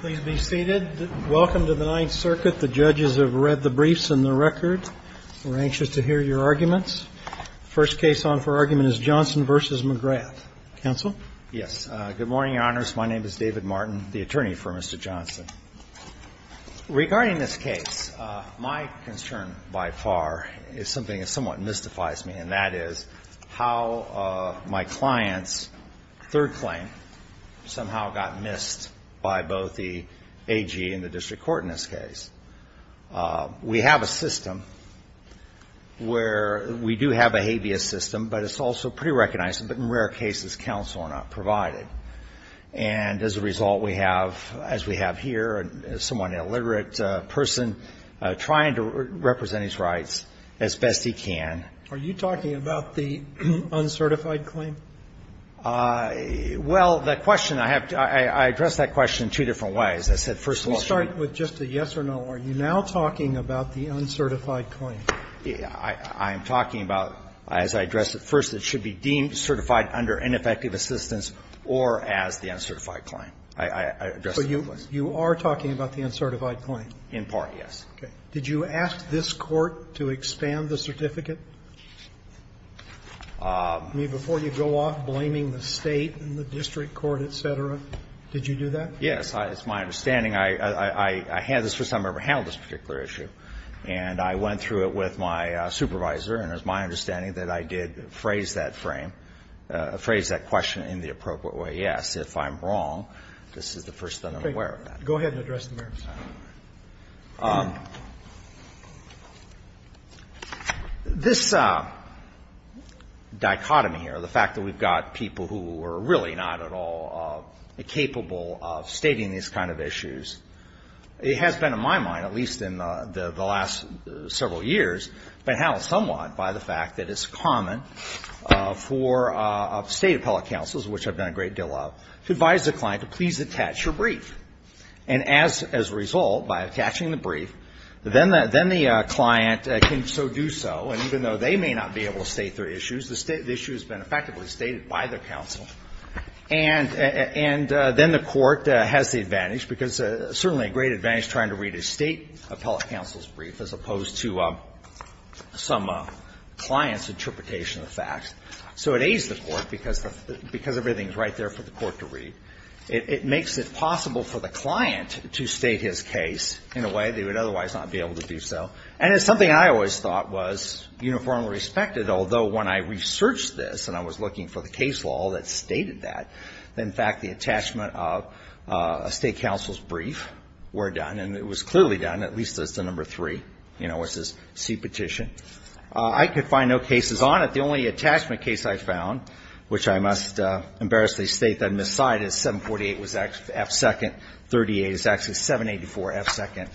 Please be seated. Welcome to the Ninth Circuit. The judges have read the briefs and the record. We're anxious to hear your arguments. The first case on for argument is Johnson v. McGrath. Counsel? Yes. Good morning, Your Honors. My name is David Martin, the attorney for Mr. Johnson. Regarding this case, my concern by far is something that somewhat mystifies me, and that is how my client's third claim somehow got missed by both the AG and the district court in this case. We have a system where we do have a habeas system, but it's also pretty recognized, but in rare cases counsel are not provided. And as a result, we have, as we have here, a somewhat illiterate person trying to represent his rights as best he can. Are you talking about the uncertified claim? Well, the question I have to ask, I addressed that question in two different ways. I said, first of all, should we? You start with just a yes or no. Are you now talking about the uncertified claim? I'm talking about, as I addressed it first, it should be deemed certified under ineffective assistance or as the uncertified claim. I addressed it both ways. But you are talking about the uncertified claim? In part, yes. Okay. Did you ask this Court to expand the certificate? I mean, before you go off blaming the State and the district court, et cetera? Did you do that? Yes. It's my understanding. I handled this particular issue, and I went through it with my supervisor, and it's my understanding that I did phrase that frame, phrase that question in the appropriate way. Yes, if I'm wrong, this is the first time I'm aware of that. Go ahead and address the merits. This dichotomy here, the fact that we've got people who are really not at all capable of stating these kind of issues, it has been, in my mind, at least in the last several years, been handled somewhat by the fact that it's common for State appellate counsels, which I've done a great deal of, to advise the client to please attach your brief. And as a result, by attaching the brief, then the client can so do so, and even though they may not be able to state their issues, the issue has been effectively stated by the counsel. And then the Court has the advantage, because certainly a great advantage trying to read a State appellate counsel's brief as opposed to some client's interpretation of the facts. So it aids the Court, because everything is right there for the Court to read. It makes it possible for the client to state his case in a way they would otherwise not be able to do so. And it's something I always thought was uniformly respected, although when I researched this and I was looking for the case law that stated that, in fact, the attachment of a State counsel's brief were done, and it was clearly done, at least as to number three, you know, as this C petition. I could find no cases on it. The only attachment case I found, which I must embarrassly state that I miscited, 748 was actually F2nd 38. It's actually 784F2nd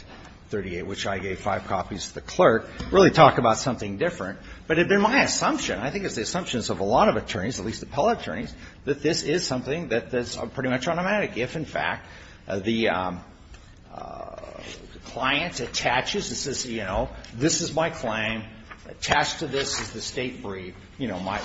38, which I gave five copies to the clerk, really talk about something different. But it had been my assumption, I think it's the assumptions of a lot of attorneys, at least appellate attorneys, that this is something that's pretty much automatic. If, in fact, the client attaches and says, you know, this is my claim, attached to this is the State brief, you know, my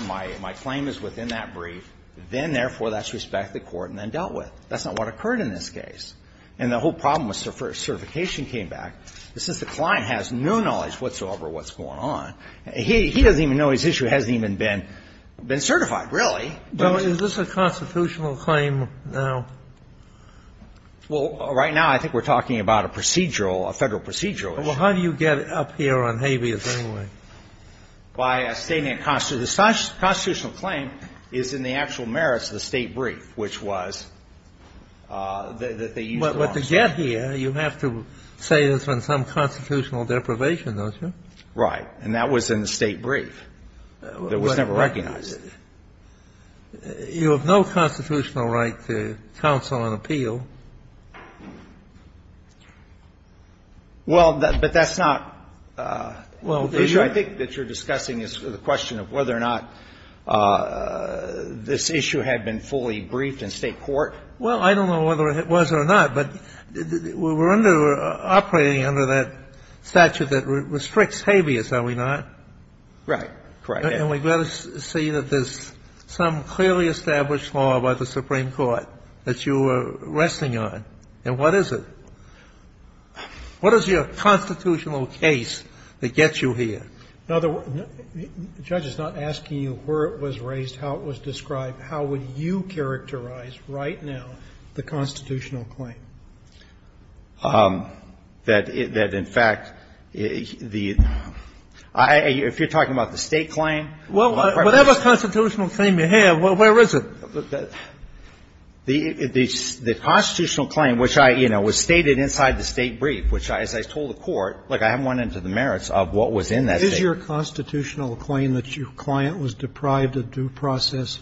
claim is within that brief, then, therefore, that's respected court and then dealt with. That's not what occurred in this case. And the whole problem with certification came back. Since the client has no knowledge whatsoever of what's going on, he doesn't even know his issue hasn't even been certified, really. Well, is this a constitutional claim now? Well, right now, I think we're talking about a procedural, a Federal procedural. Well, how do you get up here on habeas anyway? By stating a constitutional claim is in the actual merits of the State brief, which was that they used the wrong statement. But to get here, you have to say it's on some constitutional deprivation, don't you? Right. And that was in the State brief. It was never recognized. You have no constitutional right to counsel and appeal. Well, but that's not the issue I think that you're discussing is the question of whether or not this issue had been fully briefed in State court. Well, I don't know whether it was or not, but we're under or operating under that statute that restricts habeas, are we not? Right. Correct. And we've got to see that there's some clearly established law by the Supreme Court that you are resting on. And what is it? What is your constitutional case that gets you here? Now, the judge is not asking you where it was raised, how it was described. How would you characterize right now the constitutional claim? That in fact, the – if you're talking about the State claim? Well, whatever constitutional claim you have, where is it? The constitutional claim, which I – you know, was stated inside the State brief, which as I told the Court, like I haven't went into the merits of what was in that State brief. Is your constitutional claim that your client was deprived of due process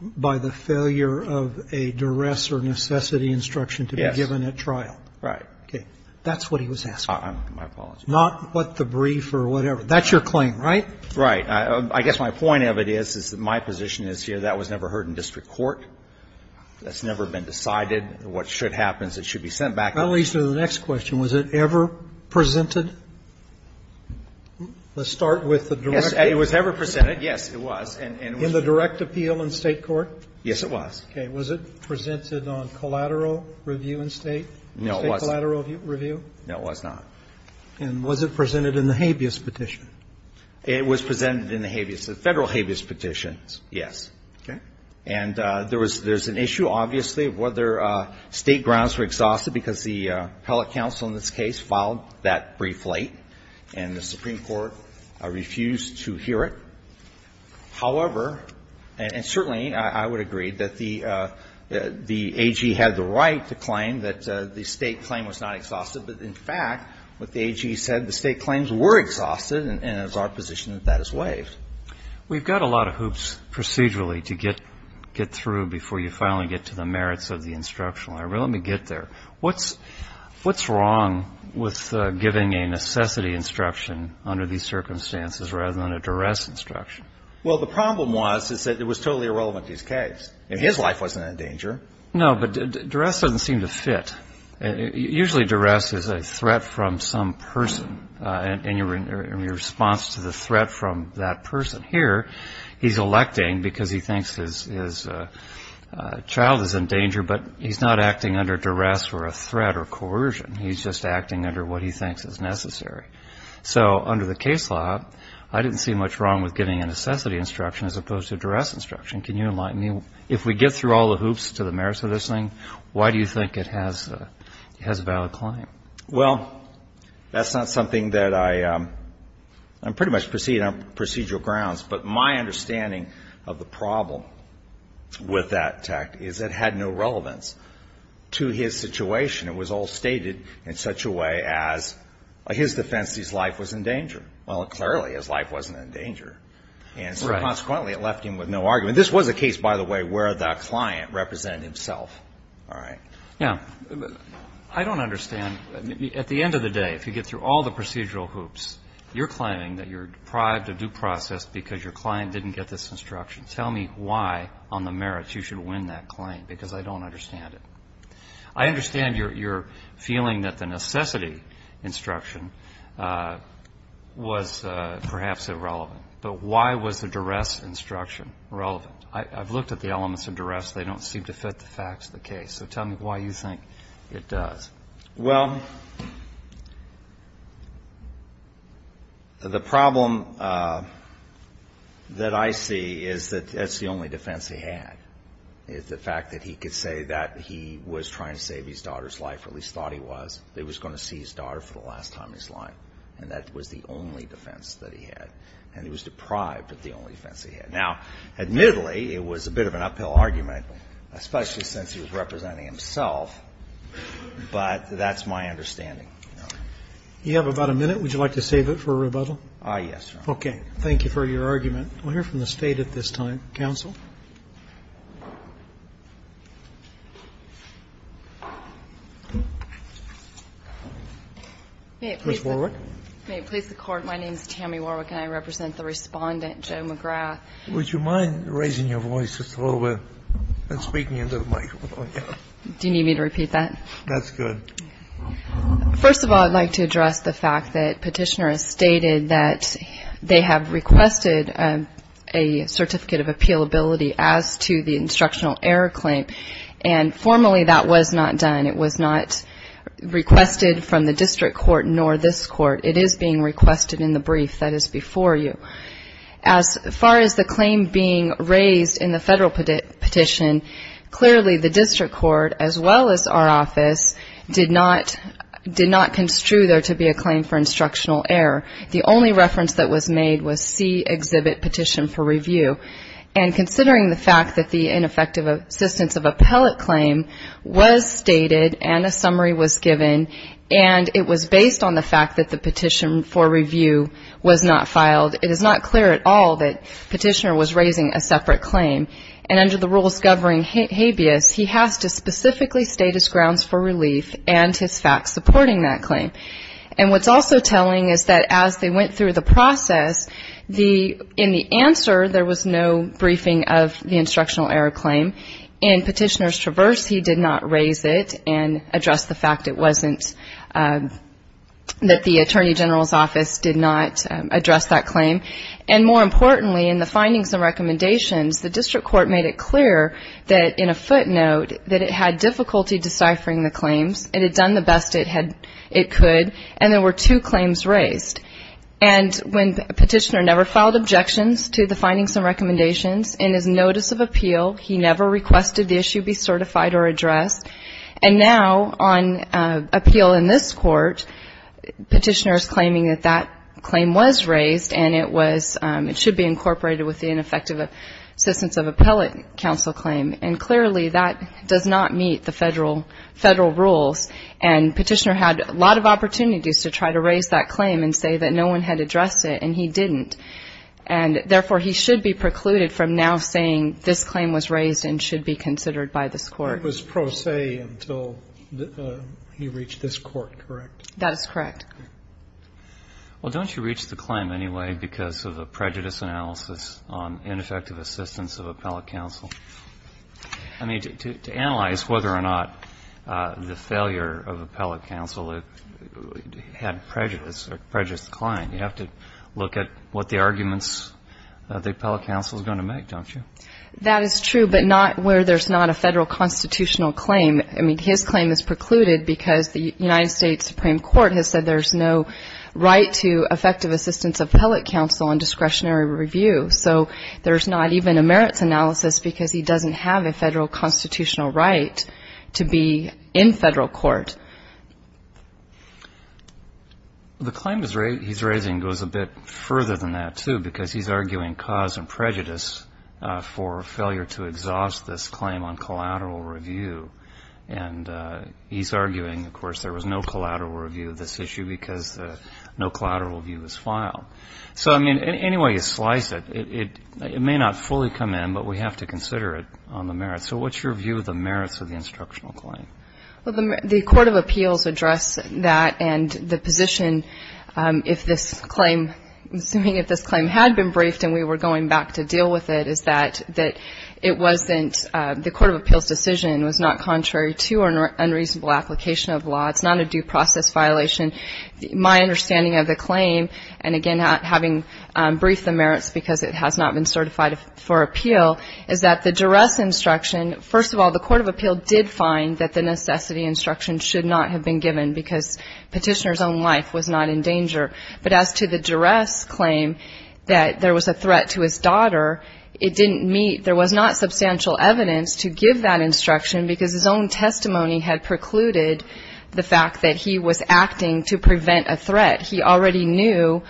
by the failure of a duress or necessity instruction to be given at trial? Yes. Right. Okay. That's what he was asking. My apologies. Not what the brief or whatever. That's your claim, right? Right. I guess my point of it is, is that my position is here that was never heard in district court. That's never been decided. What should happen is it should be sent back. That leads to the next question. Was it ever presented? Let's start with the direct appeal. Yes, it was ever presented. Yes, it was. In the direct appeal in State court? Yes, it was. Okay. Was it presented on collateral review in State? No, it wasn't. State collateral review? No, it was not. And was it presented in the habeas petition? It was presented in the habeas, the Federal habeas petitions, yes. Okay. And there was an issue, obviously, of whether State grounds were exhausted because the appellate counsel in this case filed that brief late, and the Supreme Court refused to hear it. However, and certainly I would agree that the AG had the right to claim that the State claim was not exhausted. But, in fact, what the AG said, the State claims were exhausted, and it's our position that that is waived. We've got a lot of hoops procedurally to get through before you finally get to the merits of the instructional. Let me get there. What's wrong with giving a necessity instruction under these circumstances rather than a duress instruction? Well, the problem was is that it was totally irrelevant to his case. No, but duress doesn't seem to fit. Usually duress is a threat from some person, and your response to the threat from that person. Here, he's electing because he thinks his child is in danger, but he's not acting under duress or a threat or coercion. He's just acting under what he thinks is necessary. So under the case law, I didn't see much wrong with giving a necessity instruction as opposed to a duress instruction. Can you enlighten me? If we get through all the hoops to the merits of this thing, why do you think it has a valid claim? Well, that's not something that I'm pretty much proceeding on procedural grounds, but my understanding of the problem with that attack is it had no relevance to his situation. It was all stated in such a way as, in his defense, his life was in danger. Well, clearly, his life wasn't in danger. Right. And so consequently, it left him with no argument. I mean, this was a case, by the way, where the client represented himself. All right. Yeah. I don't understand. At the end of the day, if you get through all the procedural hoops, you're claiming that you're deprived of due process because your client didn't get this instruction. Tell me why, on the merits, you should win that claim, because I don't understand it. I understand your feeling that the necessity instruction was perhaps irrelevant, but why was the duress instruction relevant? I've looked at the elements of duress. They don't seem to fit the facts of the case. So tell me why you think it does. Well, the problem that I see is that that's the only defense he had, is the fact that he could say that he was trying to save his daughter's life, or at least thought he was, that he was going to see his daughter for the last time in his That's the only defense he had. And he was deprived of the only defense he had. Now, admittedly, it was a bit of an uphill argument, especially since he was representing himself, but that's my understanding. You have about a minute. Would you like to save it for rebuttal? Yes, Your Honor. Okay. Thank you for your argument. We'll hear from the State at this time. Counsel. Ms. Warwick. May it please the Court, my name is Tammy Warwick. And I represent the Respondent, Joe McGrath. Would you mind raising your voice just a little bit and speaking into the microphone? Do you need me to repeat that? That's good. First of all, I'd like to address the fact that Petitioner has stated that they have requested a certificate of appealability as to the instructional error claim. And formally, that was not done. It was not requested from the district court nor this court. It is being requested in the brief that is before you. As far as the claim being raised in the federal petition, clearly the district court, as well as our office, did not construe there to be a claim for instructional error. The only reference that was made was C, Exhibit Petition for Review. And considering the fact that the ineffective assistance of appellate claim was stated and a summary was given and it was based on the fact that the petition for review was not filed, it is not clear at all that Petitioner was raising a separate claim. And under the rules governing habeas, he has to specifically state his grounds for relief and his facts supporting that claim. And what's also telling is that as they went through the process, in the answer there was no briefing of the instructional error claim. In Petitioner's Traverse, he did not raise it and address the fact that the Attorney General's Office did not address that claim. And more importantly, in the findings and recommendations, the district court made it clear that in a footnote that it had difficulty deciphering the claims. It had done the best it could, and there were two claims raised. And when Petitioner never filed objections to the findings and recommendations, in his notice of appeal, he never requested the issue be certified or addressed. And now on appeal in this court, Petitioner is claiming that that claim was raised and it should be incorporated with the ineffective assistance of appellate counsel claim. And clearly that does not meet the federal rules. And Petitioner had a lot of opportunities to try to raise that claim and say that no one had addressed it, and he didn't. And therefore, he should be precluded from now saying this claim was raised and should be considered by this court. It was pro se until he reached this court, correct? That is correct. Well, don't you reach the claim anyway because of a prejudice analysis on ineffective assistance of appellate counsel? I mean, to analyze whether or not the failure of appellate counsel had prejudice or prejudice declined, you have to look at what the arguments the appellate counsel is going to make, don't you? That is true, but not where there's not a federal constitutional claim. I mean, his claim is precluded because the United States Supreme Court has said there's no right to effective assistance of appellate counsel on discretionary review. So there's not even a merits analysis because he doesn't have a federal constitutional right to be in federal court. The claim he's raising goes a bit further than that, too, because he's arguing cause and prejudice for failure to exhaust this claim on collateral review. And he's arguing, of course, there was no collateral review of this issue because no collateral review was filed. So, I mean, anyway you slice it, it may not fully come in, but we have to consider it on the merits. So what's your view of the merits of the instructional claim? Well, the Court of Appeals addressed that and the position, if this claim, assuming if this claim had been briefed and we were going back to deal with it, is that it wasn't, the Court of Appeals decision was not contrary to an unreasonable application of law. It's not a due process violation. My understanding of the claim, and again, having briefed the merits because it has not been certified for appeal, is that the duress instruction, first of all, the Court of Appeals did find that the necessity instruction should not have been given because petitioner's own life was not in danger. But as to the duress claim, that there was a threat to his daughter, it didn't meet, there was not substantial evidence to give that instruction because his own testimony had precluded the fact that he was acting to prevent a threat. He already knew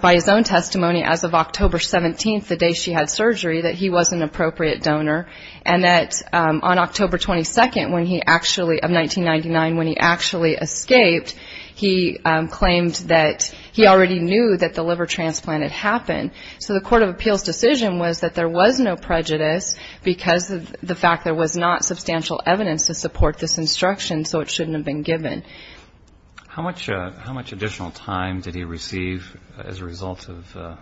by his own testimony as of October 17th, the day she had surgery, that he was an appropriate donor, and that on October 22nd, when he actually, of 1999, when he actually escaped, he claimed that he already knew that the liver transplant had happened. So the Court of Appeals decision was that there was no prejudice because of the fact there was not substantial evidence to support this instruction, so it shouldn't have been given. How much additional time did he receive as a result of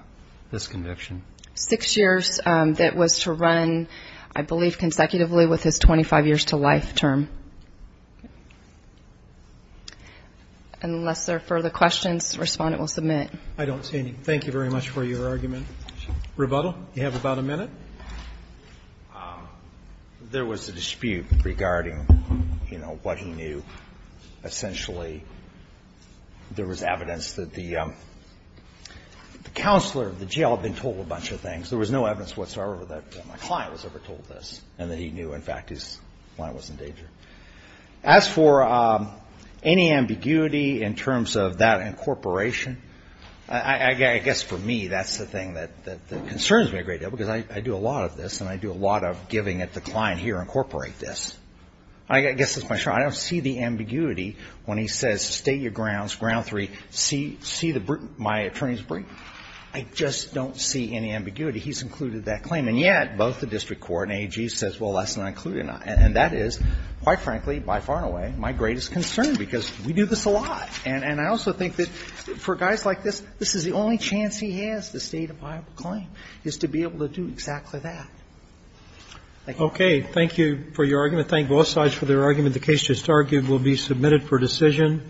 this conviction? Six years. That was to run, I believe, consecutively with his 25 years to life term. Unless there are further questions, the Respondent will submit. I don't see any. Thank you very much for your argument. Rebuttal. You have about a minute. There was a dispute regarding, you know, what he knew. Essentially, there was evidence that the counselor of the jail had been told a bunch of things. There was no evidence whatsoever that my client was ever told this, and that he knew, in fact, his client was in danger. As for any ambiguity in terms of that incorporation, I guess, for me, that's the thing that concerns me a great deal, because I do a lot of this, and I do a lot of giving it to the client, here, incorporate this. I guess that's my short answer. I don't see the ambiguity when he says, state your grounds, ground three, see my attorney's brief. I just don't see any ambiguity. He's included that claim. And yet, both the district court and AAG says, well, that's not included. And that is, quite frankly, by far and away, my greatest concern, because we do this a lot. And I also think that for guys like this, this is the only chance he has to state a viable claim, is to be able to do exactly that. Thank you. Okay. Thank you for your argument. Thank both sides for their argument. The case just argued will be submitted for decision.